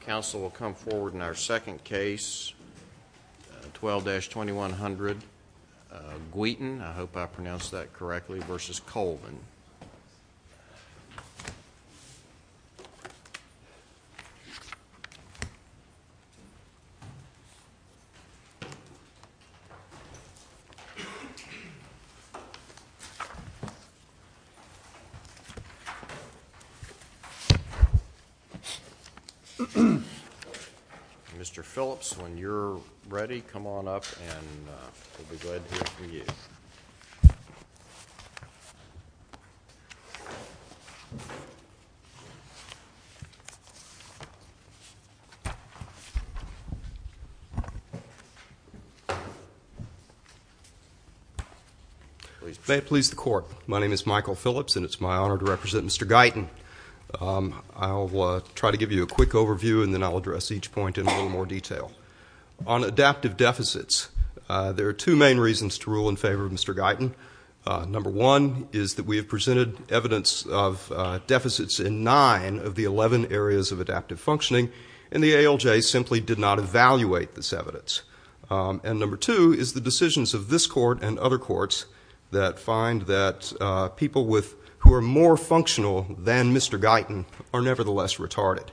Council will come forward in our second case, 12-2100. Guiton, I hope I pronounced that correctly, versus Colvin. Mr. Phillips, when you're ready, come on up and we'll be glad to hear from you. May it please the Court, my name is Michael Phillips and it's my honor to represent Mr. Guiton. I'll try to give you a quick overview and then I'll address each point in a little more detail. On adaptive deficits, there are two main reasons to rule in favor of Mr. Guiton. Number one is that we have presented evidence of deficits in nine of the 11 areas of adaptive functioning, and the ALJ simply did not evaluate this evidence. And number two is the decisions of this Court and other courts that find that people who are more functional than Mr. Guiton are nevertheless retarded.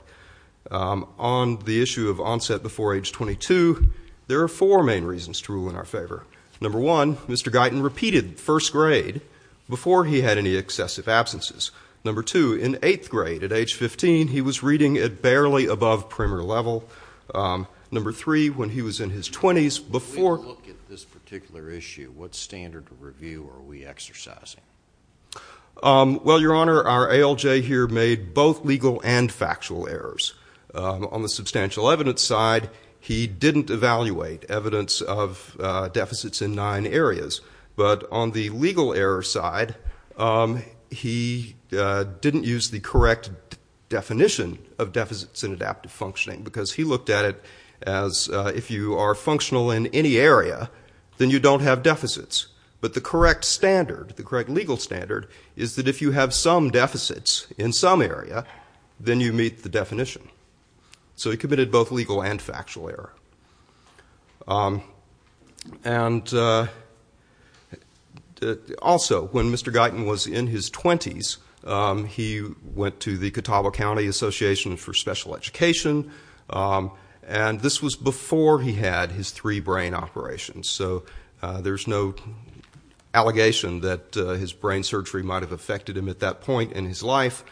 On the issue of onset before age 22, there are four main reasons to rule in our favor. Number one, Mr. Guiton repeated first grade before he had any excessive absences. Number two, in eighth grade, at age 15, he was reading at barely above premier level. Number three, when he was in his 20s, before... When we look at this particular issue, what standard of review are we exercising? Well, Your Honor, our ALJ here made both legal and factual errors. On the substantial evidence side, he didn't evaluate evidence of deficits in nine areas. But on the legal error side, he didn't use the correct definition of deficits in adaptive functioning because he looked at it as if you are functional in any area, then you don't have deficits. But the correct standard, the correct legal standard, is that if you have some deficits in some area, then you meet the definition. So he committed both legal and factual error. And also, when Mr. Guiton was in his 20s, he went to the Catawba County Association for Special Education. And this was before he had his three brain operations. So there's no allegation that his brain surgery might have affected him at that point in his life.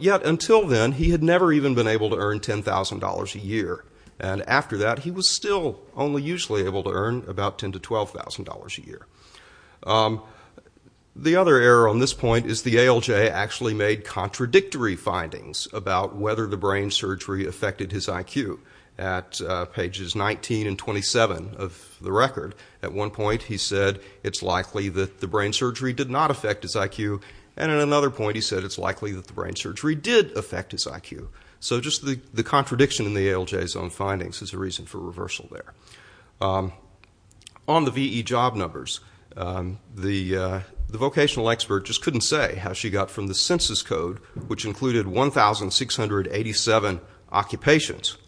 Yet until then, he had never even been able to earn $10,000 a year. And after that, he was still only usually able to earn about $10,000 to $12,000 a year. The other error on this point is the ALJ actually made contradictory findings about whether the brain surgery affected his IQ. At pages 19 and 27 of the record, at one point, he said it's likely that the brain surgery did not affect his IQ. And at another point, he said it's likely that the brain surgery did affect his IQ. So just the contradiction in the ALJ's own findings is a reason for reversal there. On the VE job numbers, the vocational expert just couldn't say how she got from the census code, which included 1,687 occupations,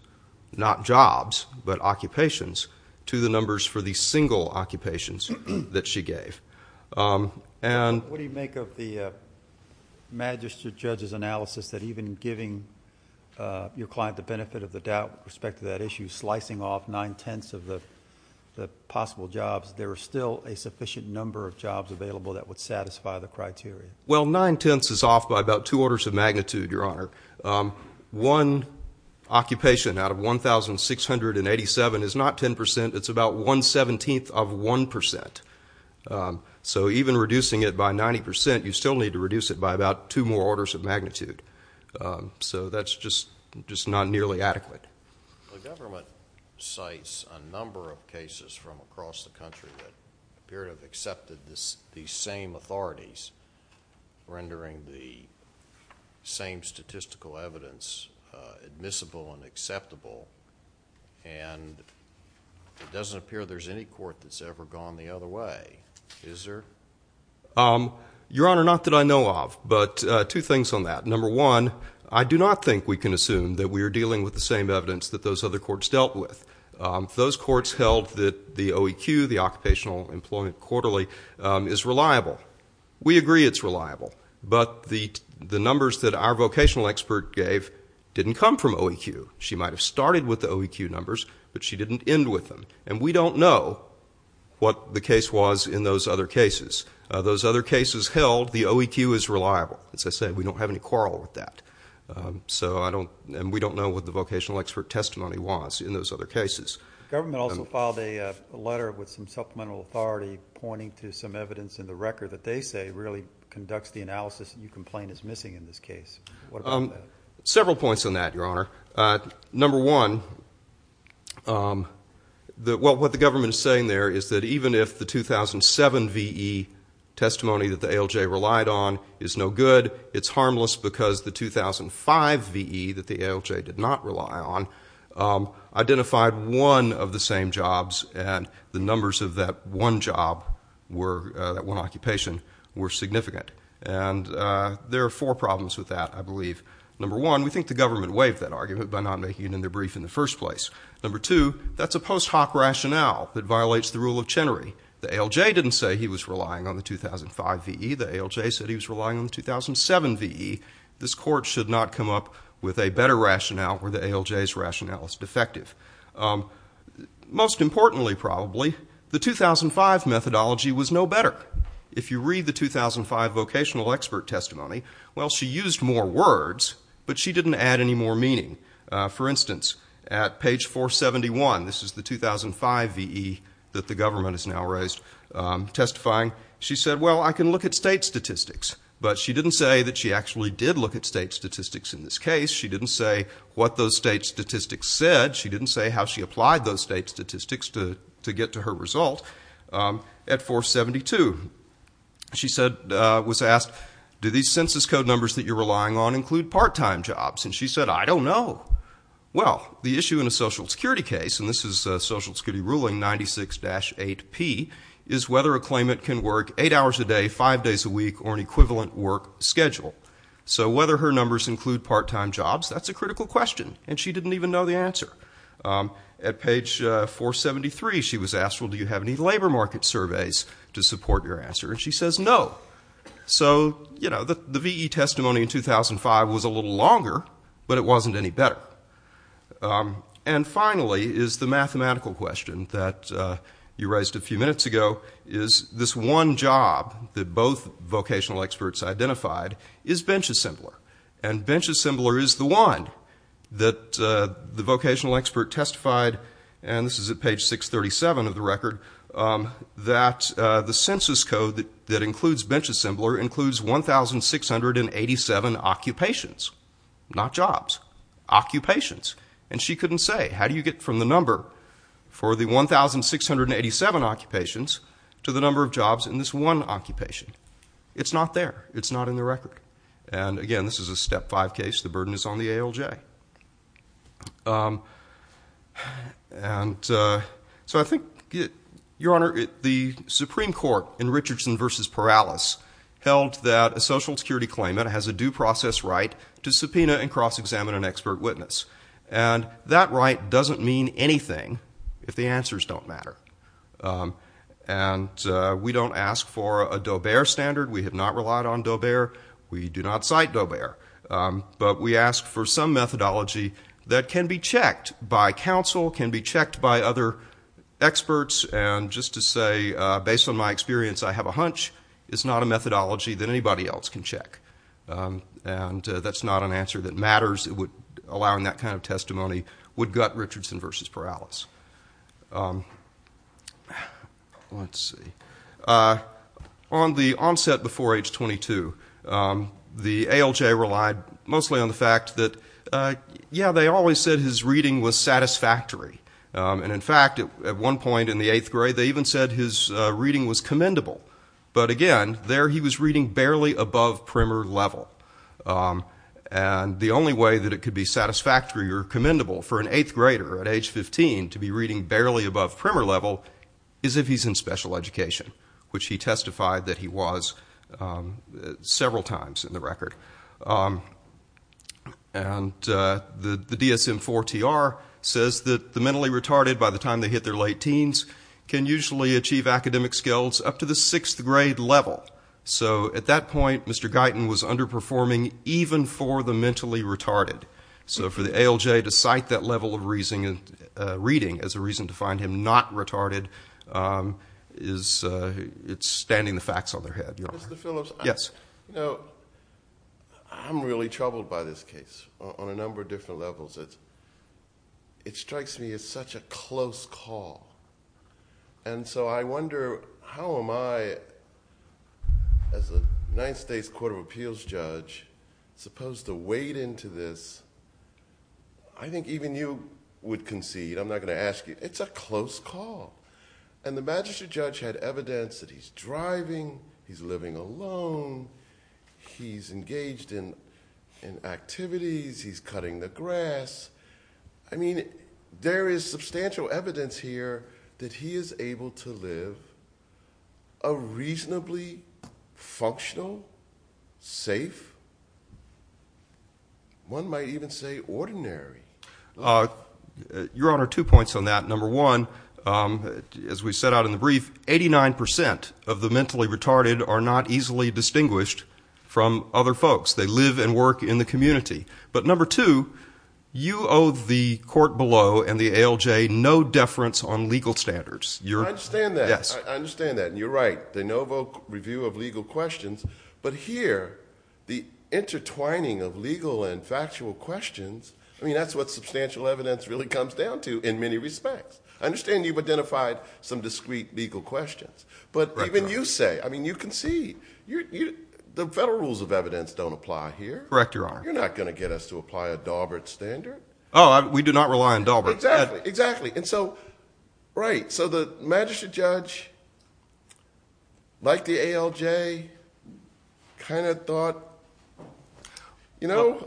not jobs, but occupations, to the numbers for the single occupations that she gave. What do you make of the magistrate judge's analysis that even giving your client the benefit of the doubt with respect to that issue, slicing off nine-tenths of the possible jobs, there are still a sufficient number of jobs available that would satisfy the criteria? Well, nine-tenths is off by about two orders of magnitude, Your Honor. One occupation out of 1,687 is not ten percent. It's about one-seventeenth of one percent. So even reducing it by 90 percent, you still need to reduce it by about two more orders of magnitude. So that's just not nearly adequate. The government cites a number of cases from across the country that appear to have accepted these same authorities, rendering the same statistical evidence admissible and acceptable, and it doesn't appear there's any court that's ever gone the other way. Is there? Your Honor, not that I know of, but two things on that. Number one, I do not think we can assume that we are dealing with the same evidence that those other courts dealt with. Those courts held that the OEQ, the Occupational Employment Quarterly, is reliable. We agree it's reliable, but the numbers that our vocational expert gave didn't come from OEQ. She might have started with the OEQ numbers, but she didn't end with them, and we don't know what the case was in those other cases. Those other cases held, the OEQ is reliable. As I said, we don't have any quarrel with that, and we don't know what the vocational expert testimony was in those other cases. The government also filed a letter with some supplemental authority pointing to some evidence in the record that they say really conducts the analysis that you complain is missing in this case. What about that? Several points on that, Your Honor. Number one, what the government is saying there is that even if the 2007 V.E. testimony that the ALJ relied on is no good, it's harmless because the 2005 V.E. that the ALJ did not rely on identified one of the same jobs, and the numbers of that one job, that one occupation, were significant. And there are four problems with that, I believe. Number one, we think the government waived that argument by not making it in their brief in the first place. Number two, that's a post hoc rationale that violates the rule of Chenery. The ALJ didn't say he was relying on the 2005 V.E. The ALJ said he was relying on the 2007 V.E. This court should not come up with a better rationale where the ALJ's rationale is defective. Most importantly, probably, the 2005 methodology was no better. If you read the 2005 vocational expert testimony, well, she used more words, but she didn't add any more meaning. For instance, at page 471, this is the 2005 V.E. that the government has now raised testifying, she said, well, I can look at state statistics. But she didn't say that she actually did look at state statistics in this case. She didn't say what those state statistics said. She didn't say how she applied those state statistics to get to her result. At 472, she was asked, do these census code numbers that you're relying on include part-time jobs? And she said, I don't know. Well, the issue in a Social Security case, and this is Social Security ruling 96-8P, is whether a claimant can work eight hours a day, five days a week, or an equivalent work schedule. So whether her numbers include part-time jobs, that's a critical question. And she didn't even know the answer. At page 473, she was asked, well, do you have any labor market surveys to support your answer? And she says no. So, you know, the V.E. testimony in 2005 was a little longer, but it wasn't any better. And finally is the mathematical question that you raised a few minutes ago, is this one job that both vocational experts identified is bench assembler. And bench assembler is the one that the vocational expert testified, and this is at page 637 of the record, that the census code that includes bench assembler includes 1,687 occupations, not jobs. Occupations. And she couldn't say, how do you get from the number for the 1,687 occupations to the number of jobs in this one occupation? And, again, this is a Step 5 case. The burden is on the ALJ. And so I think, Your Honor, the Supreme Court in Richardson v. Perales held that a Social Security claimant has a due process right to subpoena and cross-examine an expert witness. And that right doesn't mean anything if the answers don't matter. And we don't ask for a Daubert standard. We have not relied on Daubert. We do not cite Daubert. But we ask for some methodology that can be checked by counsel, can be checked by other experts. And just to say, based on my experience, I have a hunch it's not a methodology that anybody else can check. And that's not an answer that matters, allowing that kind of testimony would gut Richardson v. Perales. Let's see. On the onset before age 22, the ALJ relied mostly on the fact that, yeah, they always said his reading was satisfactory. And, in fact, at one point in the 8th grade, they even said his reading was commendable. But, again, there he was reading barely above primer level. And the only way that it could be satisfactory or commendable for an 8th grader at age 15 to be reading barely above primer level is if he's in special education, which he testified that he was several times in the record. And the DSM-IV-TR says that the mentally retarded, by the time they hit their late teens, can usually achieve academic skills up to the 6th grade level. So, at that point, Mr. Guyton was underperforming even for the mentally retarded. So for the ALJ to cite that level of reading as a reason to find him not retarded, it's standing the facts on their head, Your Honor. Mr. Phillips? Yes. You know, I'm really troubled by this case on a number of different levels. It strikes me as such a close call. And so I wonder, how am I, as a United States Court of Appeals judge, supposed to wade into this? I think even you would concede. I'm not gonna ask you. It's a close call. And the magistrate judge had evidence that he's driving, he's living alone, he's engaged in activities, he's cutting the grass. I mean, there is substantial evidence here that he is able to live a reasonably functional, safe, one might even say ordinary life. Your Honor, two points on that. Number one, as we set out in the brief, 89% of the mentally retarded are not easily distinguished from other folks. They live and work in the community. But number two, you owe the court below and the ALJ no deference on legal standards. I understand that. I understand that. And you're right. De novo review of legal questions. But here, the intertwining of legal and factual questions, I mean, that's what substantial evidence really comes down to in many respects. I understand you've identified some discrete legal questions. But even you say, I mean, you concede. The federal rules of evidence don't apply here. Correct, Your Honor. You're not gonna get us to apply a Daubert standard. Oh, we do not rely on Daubert. Exactly, exactly. And so, right, so the magistrate judge, like the ALJ, kind of thought, you know...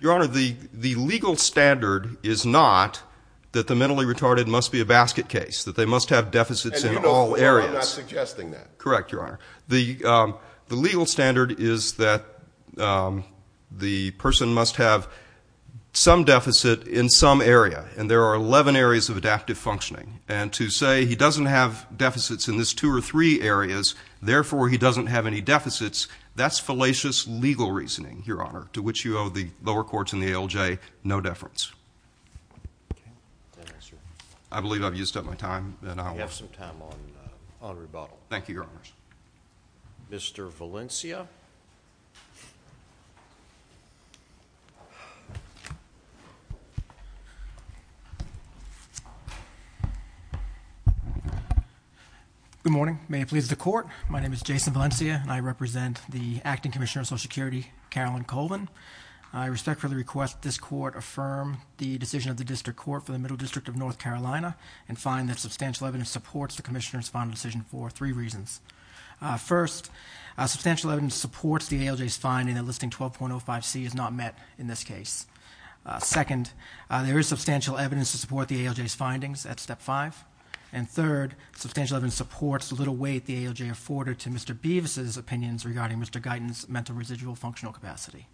Your Honor, the legal standard is not that the mentally retarded must be a basket case, that they must have deficits in all areas. And you know I'm not suggesting that. Correct, Your Honor. The legal standard is that the person must have some deficit in some area. And there are 11 areas of adaptive functioning. And to say he doesn't have deficits in this two or three areas, therefore he doesn't have any deficits, that's fallacious legal reasoning, Your Honor, to which you owe the lower courts in the ALJ no deference. I believe I've used up my time. You have some time on rebuttal. Thank you, Your Honors. Mr. Valencia. Good morning. May it please the Court. My name is Jason Valencia, and I represent the Acting Commissioner of Social Security, Carolyn Colvin. I respectfully request that this Court affirm the decision of the District Court for the Middle District of North Carolina and find that substantial evidence supports the Commissioner's final decision for three reasons. First, substantial evidence supports the ALJ's finding that Listing 12.05c is not met in this case. Second, there is substantial evidence to support the ALJ's findings at Step 5. the little weight the ALJ afforded to Mr. Bevis's opinions regarding Mr. Guyton's mental residual functional capacity.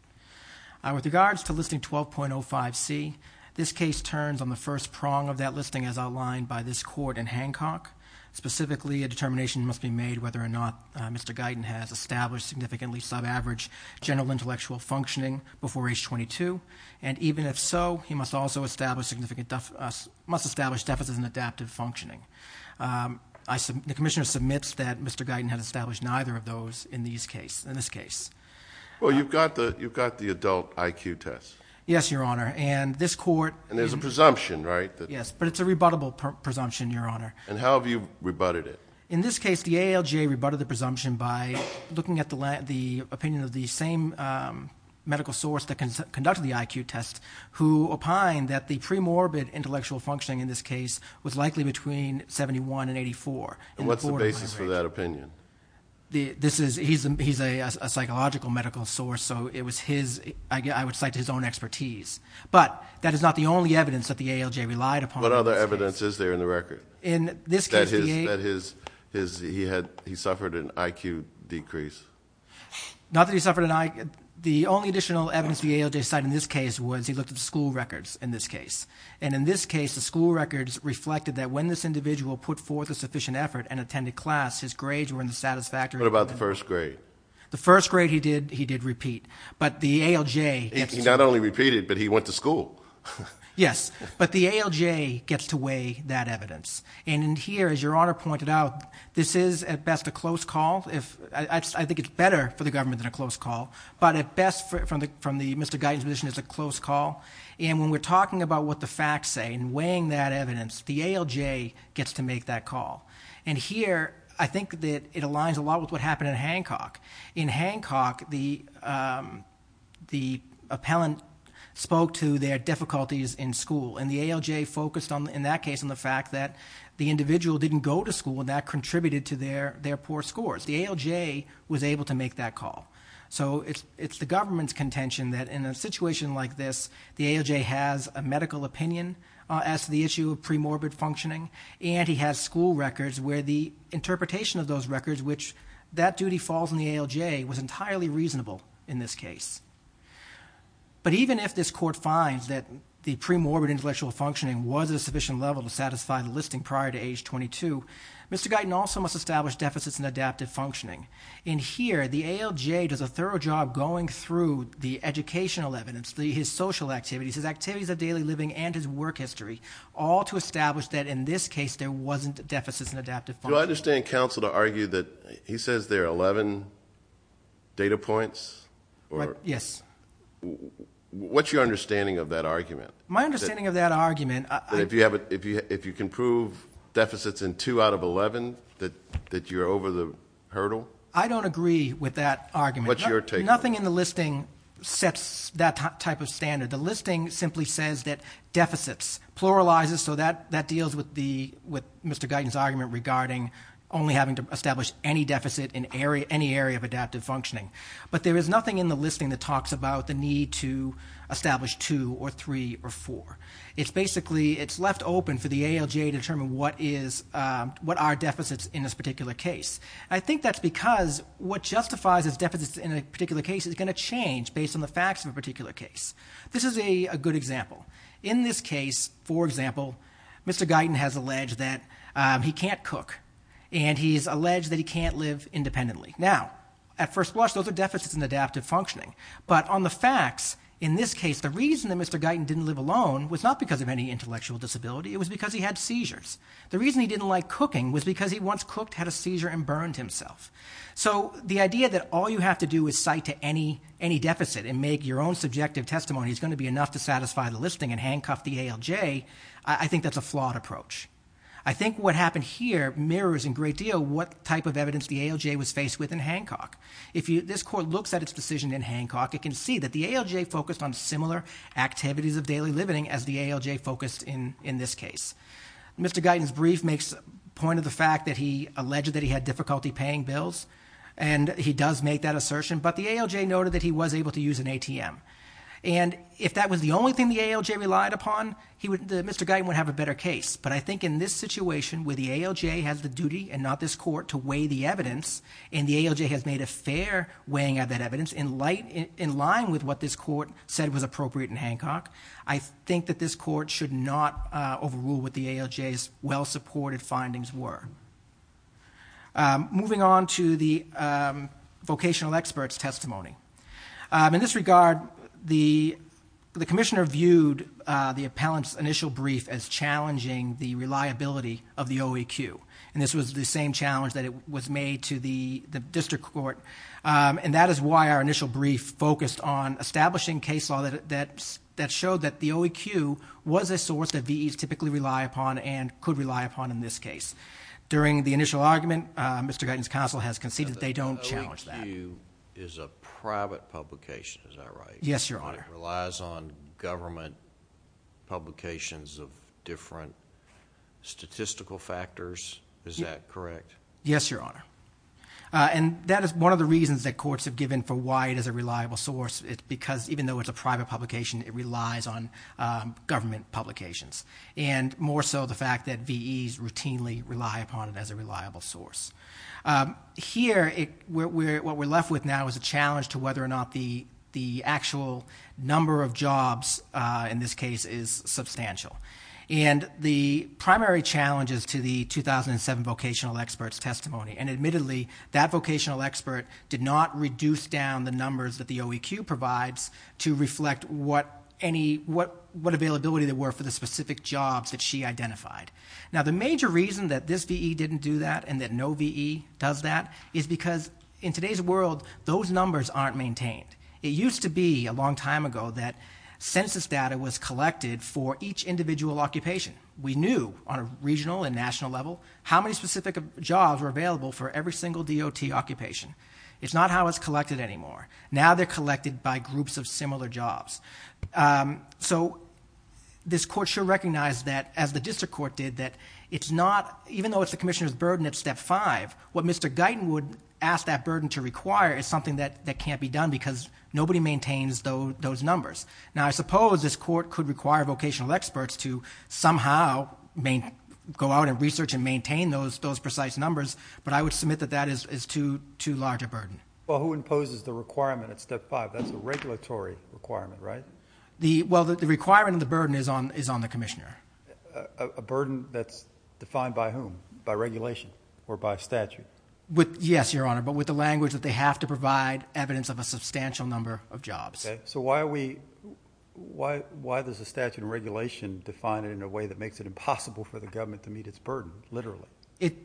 With regards to Listing 12.05c, this case turns on the first prong of that listing as outlined by this Court in Hancock. Specifically, a determination must be made whether or not Mr. Guyton has established significantly sub-average general intellectual functioning before age 22, and even if so, he must also establish deficit and adaptive functioning. The Commissioner submits that Mr. Guyton had established neither of those in this case. Well, you've got the adult IQ test. Yes, Your Honor, and this Court... And there's a presumption, right? Yes, but it's a rebuttable presumption, Your Honor. And how have you rebutted it? In this case, the ALJ rebutted the presumption by looking at the opinion of the same medical source that conducted the IQ test, who opined that the pre-morbid intellectual functioning in this case was likely between 71 and 84. And what's the basis for that opinion? He's a psychological medical source, so it was his... I would cite his own expertise. But that is not the only evidence that the ALJ relied upon. What other evidence is there in the record? In this case, the ALJ... That he suffered an IQ decrease? Not that he suffered an IQ... The only additional evidence the ALJ cited in this case was he looked at the school records in this case. And in this case, the school records reflected that when this individual put forth a sufficient effort and attended class, his grades were in the satisfactory... What about the first grade? The first grade, he did repeat. But the ALJ... He not only repeated, but he went to school. Yes, but the ALJ gets to weigh that evidence. And in here, as Your Honor pointed out, this is, at best, a close call. I think it's better for the government than a close call. But at best, from Mr. Guyton's position, it's a close call. And when we're talking about what the facts say and weighing that evidence, the ALJ gets to make that call. And here, I think that it aligns a lot with what happened in Hancock. In Hancock, the, um... the appellant spoke to their difficulties in school, and the ALJ focused, in that case, on the fact that the individual didn't go to school, and that contributed to their poor scores. The ALJ was able to make that call. So it's the government's contention that in a situation like this, the ALJ has a medical opinion as to the issue of premorbid functioning, and he has school records where the interpretation of those records, which that duty falls on the ALJ, was entirely reasonable in this case. But even if this court finds that the premorbid intellectual functioning was at a sufficient level to satisfy the listing prior to age 22, Mr. Guyton also must establish deficits in adaptive functioning. In here, the ALJ does a thorough job going through the educational evidence, his social activities, his activities of daily living, and his work history, all to establish that in this case there wasn't deficits in adaptive functioning. Do I understand counsel to argue that he says there are 11 data points? Yes. What's your understanding of that argument? My understanding of that argument... That if you can prove deficits in two out of 11, I don't agree with that argument. What's your take on it? Nothing in the listing sets that type of standard. The listing simply says that deficits pluralizes, so that deals with Mr. Guyton's argument regarding only having to establish any deficit in any area of adaptive functioning. But there is nothing in the listing that talks about the need to establish 2 or 3 or 4. It's left open for the ALJ to determine what are deficits in this particular case. I think that's because what justifies as deficits in a particular case is going to change based on the facts of a particular case. This is a good example. In this case, for example, Mr. Guyton has alleged that he can't cook, and he's alleged that he can't live independently. Now, at first blush, those are deficits in adaptive functioning. But on the facts, in this case, the reason that Mr. Guyton didn't live alone was not because of any intellectual disability. It was because he had seizures. The reason he didn't like cooking was because he once cooked, had a seizure, and burned himself. So the idea that all you have to do is cite to any deficit and make your own subjective testimony is going to be enough to satisfy the listing and handcuff the ALJ, I think that's a flawed approach. I think what happened here mirrors in great deal what type of evidence the ALJ was faced with in Hancock. If this court looks at its decision in Hancock, it can see that the ALJ focused on similar activities of daily living as the ALJ focused in this case. Mr. Guyton's brief makes point of the fact that he alleged that he had difficulty paying bills, and he does make that assertion, but the ALJ noted that he was able to use an ATM. And if that was the only thing the ALJ relied upon, Mr. Guyton would have a better case. But I think in this situation, where the ALJ has the duty and not this court to weigh the evidence, and the ALJ has made a fair weighing of that evidence in line with what this court said was appropriate in Hancock, I think that this court should not overrule what the ALJ's well-supported findings were. Moving on to the vocational experts' testimony. In this regard, the commissioner viewed the appellant's initial brief as challenging the reliability of the OEQ, and this was the same challenge that was made to the district court, and that is why our initial brief focused on establishing case law that showed that the OEQ was a source that VEs typically rely upon and could rely upon in this case. During the initial argument, Mr. Guyton's counsel has conceded that they don't challenge that. The OEQ is a private publication, is that right? Yes, Your Honor. It relies on government publications of different statistical factors, is that correct? Yes, Your Honor. And that is one of the reasons that courts have given for why it is a reliable source, because even though it's a private publication, it relies on government publications, and more so the fact that VEs routinely rely upon it as a reliable source. Here, what we're left with now is a challenge to whether or not the actual number of jobs in this case is substantial. And the primary challenge is to the 2007 vocational experts' testimony, and admittedly that vocational expert did not reduce down the numbers that the OEQ provides to reflect what availability there were for the specific jobs that she identified. Now, the major reason that this VE didn't do that and that no VE does that is because in today's world those numbers aren't maintained. It used to be a long time ago that census data was collected for each individual occupation. We knew on a regional and national level how many specific jobs were available for every single DOT occupation. It's not how it's collected anymore. Now they're collected by groups of similar jobs. So this court should recognize that, as the district court did, that even though it's the commissioner's burden at step 5, what Mr. Guyton would ask that burden to require is something that can't be done because nobody maintains those numbers. Now, I suppose this court could require vocational experts to somehow go out and research and maintain those precise numbers, but I would submit that that is too large a burden. Well, who imposes the requirement at step 5? That's a regulatory requirement, right? Well, the requirement and the burden is on the commissioner. A burden that's defined by whom? By regulation or by statute? Yes, Your Honor, but with the language that they have to provide evidence of a substantial number of jobs. So why does the statute and regulation define it in a way that makes it impossible for the government to meet its burden, literally?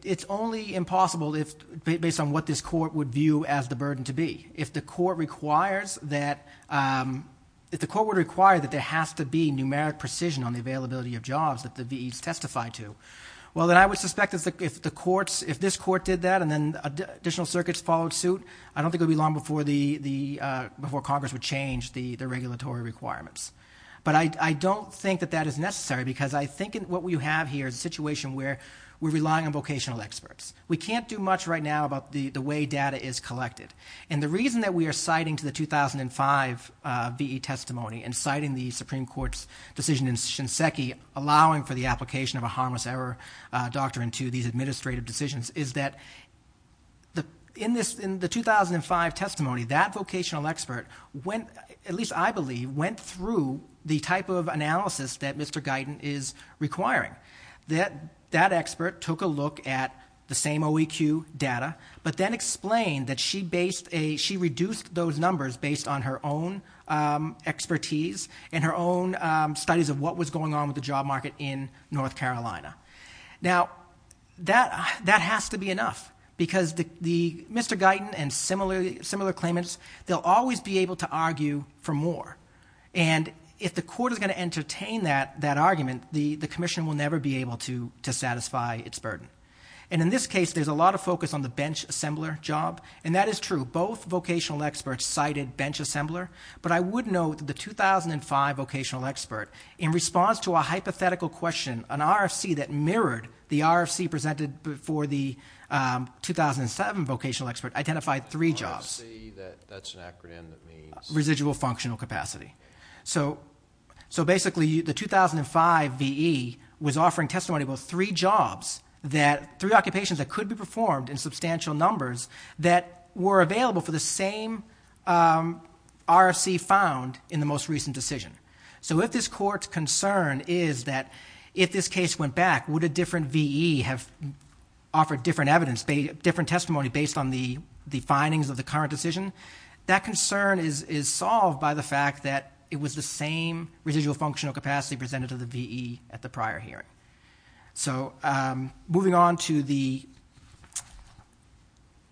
It's only impossible based on what this court would view as the burden to be. If the court requires that... If the court were to require that there has to be numeric precision on the availability of jobs that the VEs testify to, well, then I would suspect that if this court did that and then additional circuits followed suit, I don't think it would be long before Congress would change the regulatory requirements. But I don't think that that is necessary because I think what we have here is a situation where we're relying on vocational experts. We can't do much right now about the way data is collected. And the reason that we are citing to the 2005 VE testimony and citing the Supreme Court's decision in Shinseki allowing for the application of a harmless error doctrine to these administrative decisions is that in the 2005 testimony, that vocational expert, at least I believe, went through the type of analysis that Mr Guyton is requiring. That expert took a look at the same OEQ data but then explained that she reduced those numbers based on her own expertise and her own studies of what was going on with the job market in North Carolina. Now, that has to be enough because Mr Guyton and similar claimants, they'll always be able to argue for more. And if the court is going to entertain that argument, the commission will never be able to satisfy its burden. And in this case, there's a lot of focus on the bench assembler job, and that is true. Both vocational experts cited bench assembler, but I would note that the 2005 vocational expert, in response to a hypothetical question, an RFC that mirrored the RFC presented for the 2007 vocational expert, identified three jobs. RFC, that's an acronym that means...? Residual Functional Capacity. So basically, the 2005 VE was offering testimony about three occupations that could be performed in substantial numbers that were available for the same RFC found in the most recent decision. So if this court's concern is that if this case went back, would a different VE have offered different testimony based on the findings of the current decision, that concern is solved by the fact that it was the same Residual Functional Capacity presented to the VE at the prior hearing. So moving on to the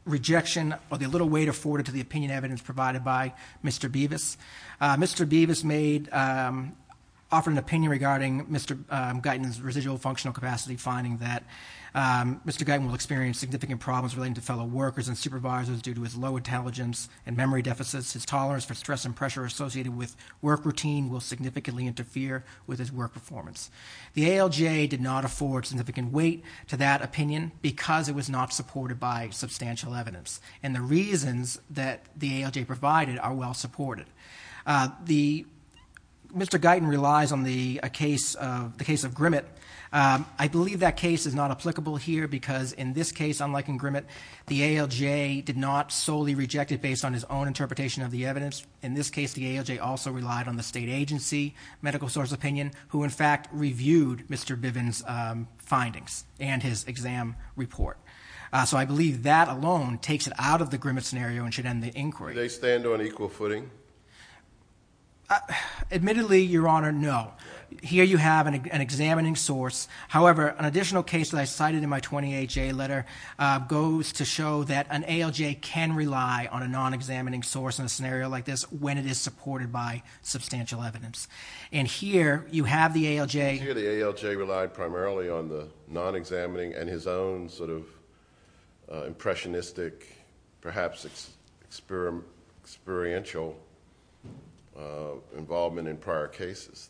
rejection or the little weight afforded to the opinion evidence provided by Mr. Bevis. Mr. Bevis made...offered an opinion regarding Mr. Guyton's Residual Functional Capacity, finding that Mr. Guyton will experience significant problems relating to fellow workers and supervisors due to his low intelligence and memory deficits. His tolerance for stress and pressure associated with work routine will significantly interfere with his work performance. The ALJ did not afford significant weight to that opinion because it was not supported by substantial evidence. And the reasons that the ALJ provided are well supported. The...Mr. Guyton relies on the case of Grimmett. I believe that case is not applicable here because in this case, unlike in Grimmett, the ALJ did not solely reject it based on his own interpretation of the evidence. In this case, the ALJ also relied on the state agency, medical source opinion, who, in fact, reviewed Mr. Bivins' findings and his exam report. So I believe that alone takes it out of the Grimmett scenario and should end the inquiry. Do they stand on equal footing? Admittedly, Your Honor, no. Here you have an examining source. However, an additional case that I cited in my 28-J letter goes to show that an ALJ can rely on a non-examining source in a scenario like this when it is supported by substantial evidence. And here you have the ALJ... And here the ALJ relied primarily on the non-examining and his own sort of impressionistic, perhaps experiential involvement in prior cases.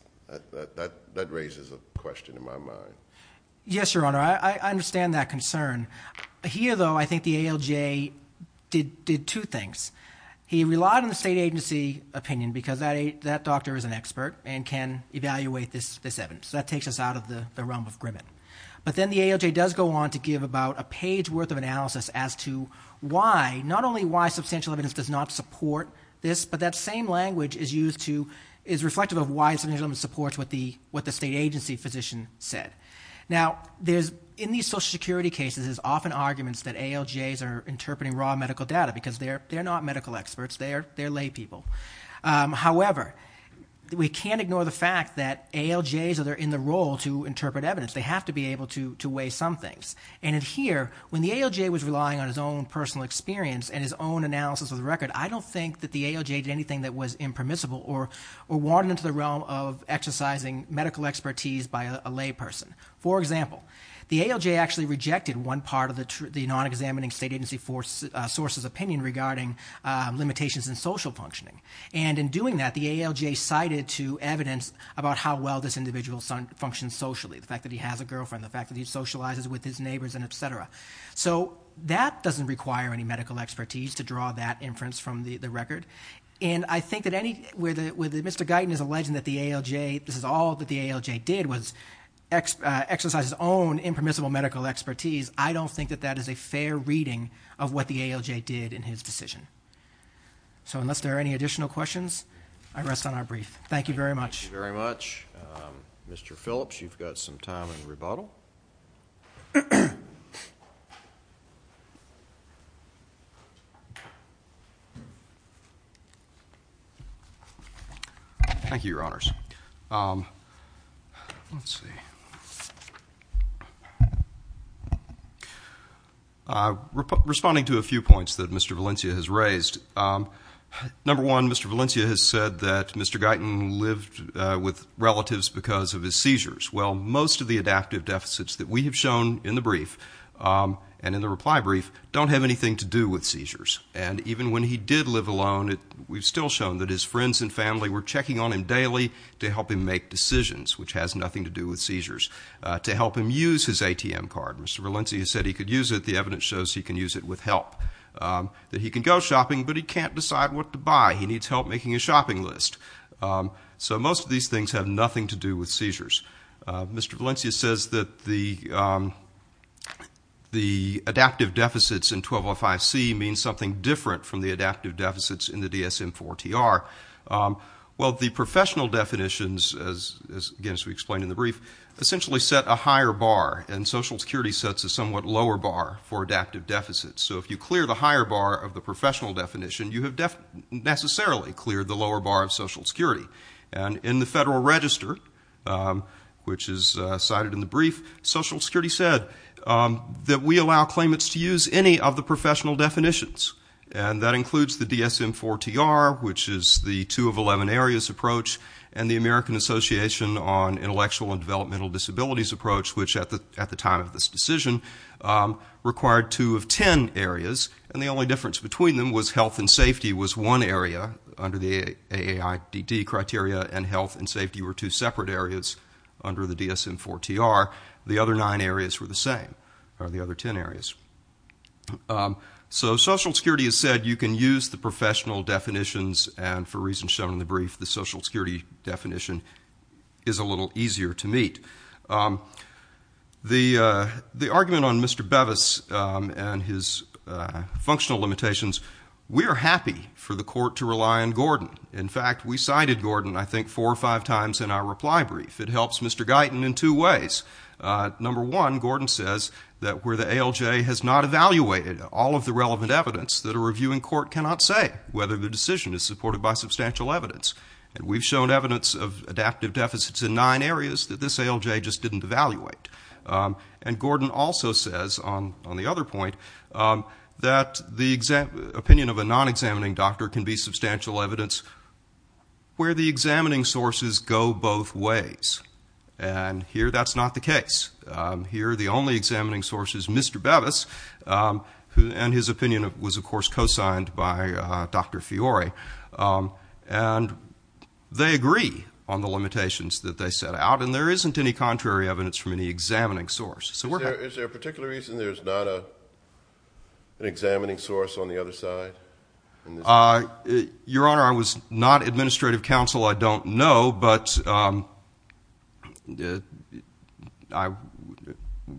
That raises a question in my mind. Yes, Your Honor, I understand that concern. Here, though, I think the ALJ did two things. He relied on the state agency opinion because that doctor is an expert and can evaluate this evidence. So that takes us out of the realm of Grimmett. But then the ALJ does go on to give about a page worth of analysis as to why, not only why, substantial evidence does not support this, but that same language is used to... is reflective of why substantial evidence supports what the state agency physician said. Now, in these Social Security cases, there's often arguments that ALJs are interpreting raw medical data because they're not medical experts, they're laypeople. However, we can't ignore the fact that ALJs are in the role to interpret evidence. They have to be able to weigh some things. And here, when the ALJ was relying on his own personal experience and his own analysis of the record, I don't think that the ALJ did anything that was impermissible or wanted into the realm of exercising medical expertise by a layperson. For example, the ALJ actually rejected one part of the non-examining state agency source's opinion regarding limitations in social functioning. And in doing that, the ALJ cited to evidence about how well this individual functions socially, the fact that he has a girlfriend, the fact that he socializes with his neighbours, etc. So that doesn't require any medical expertise to draw that inference from the record. And I think that where Mr. Guyton is alleging that this is all that the ALJ did was exercise his own impermissible medical expertise, I don't think that that is a fair reading of what the ALJ did in his decision. So unless there are any additional questions, I rest on our brief. Thank you very much. Thank you very much. Mr. Phillips, you've got some time in rebuttal. Thank you, Your Honours. Let's see. Responding to a few points that Mr. Valencia has raised. Number one, Mr. Valencia has said that Mr. Guyton lived with relatives because of his seizures. Well, most of the adaptive deficits that we have shown in the brief And even when he did live alone, we've still shown that his friends and family were checking on him daily to help him make decisions, which has nothing to do with seizures, to help him use his ATM card. Mr. Valencia said he could use it. The evidence shows he can use it with help. That he can go shopping, but he can't decide what to buy. He needs help making a shopping list. So most of these things have nothing to do with seizures. Mr. Valencia says that the adaptive deficits in 1205C mean something different from the adaptive deficits in the DSM-IV-TR. Well, the professional definitions, as we explained in the brief, essentially set a higher bar, and Social Security sets a somewhat lower bar for adaptive deficits. So if you clear the higher bar of the professional definition, you have necessarily cleared the lower bar of Social Security. And in the Federal Register, which is cited in the brief, Social Security said that we allow claimants to use any of the professional definitions. And that includes the DSM-IV-TR, which is the 2 of 11 areas approach, and the American Association on Intellectual and Developmental Disabilities approach, which at the time of this decision required 2 of 10 areas, and the only difference between them was health and safety was one area, under the AAIDD criteria, and health and safety were two separate areas under the DSM-IV-TR. The other nine areas were the same, or the other 10 areas. So Social Security has said you can use the professional definitions, and for reasons shown in the brief, the Social Security definition is a little easier to meet. The argument on Mr. Bevis and his functional limitations, we are happy for the court to rely on Gordon. In fact, we cited Gordon, I think, 4 or 5 times in our reply brief. It helps Mr. Guyton in two ways. Number one, Gordon says that where the ALJ has not evaluated all of the relevant evidence, that a reviewing court cannot say whether the decision is supported by substantial evidence. And we've shown evidence of adaptive deficits in nine areas that this ALJ just didn't evaluate. And Gordon also says, on the other point, that the opinion of a non-examining doctor can be substantial evidence where the examining sources go both ways. And here that's not the case. Here the only examining source is Mr. Bevis, and his opinion was, of course, co-signed by Dr. Fiore. And they agree on the limitations that they set out, and there isn't any contrary evidence from any examining source. Is there a particular reason there's not an examining source on the other side? Your Honor, I was not administrative counsel, I don't know, but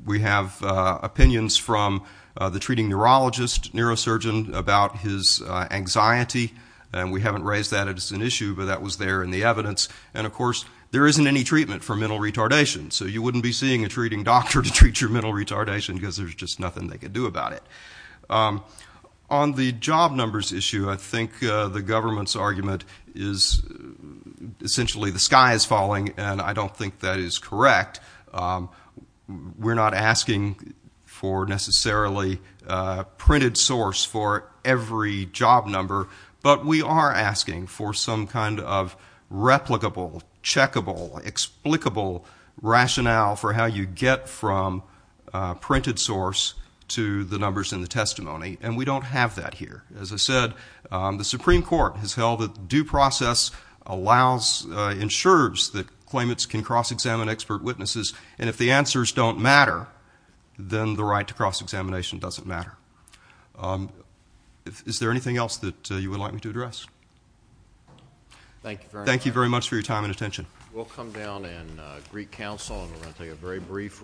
we have opinions from the treating neurologist, neurosurgeon, about his anxiety, and we haven't raised that as an issue, but that was there in the evidence. And, of course, there isn't any treatment for mental retardation, so you wouldn't be seeing a treating doctor to treat your mental retardation because there's just nothing they could do about it. On the job numbers issue, I think the government's argument is essentially the sky is falling, and I don't think that is correct. We're not asking for necessarily a printed source for every job number, but we are asking for some kind of replicable, checkable, explicable rationale for how you get from a printed source to the numbers in the testimony, and we don't have that here. As I said, the Supreme Court has held that due process allows, ensures that claimants can cross-examine expert witnesses, and if the answers don't matter, then the right to cross-examination doesn't matter. Is there anything else that you would like me to address? Thank you very much. Thank you very much for your time and attention. We'll come down and greet counsel, and we're going to take a very brief recess,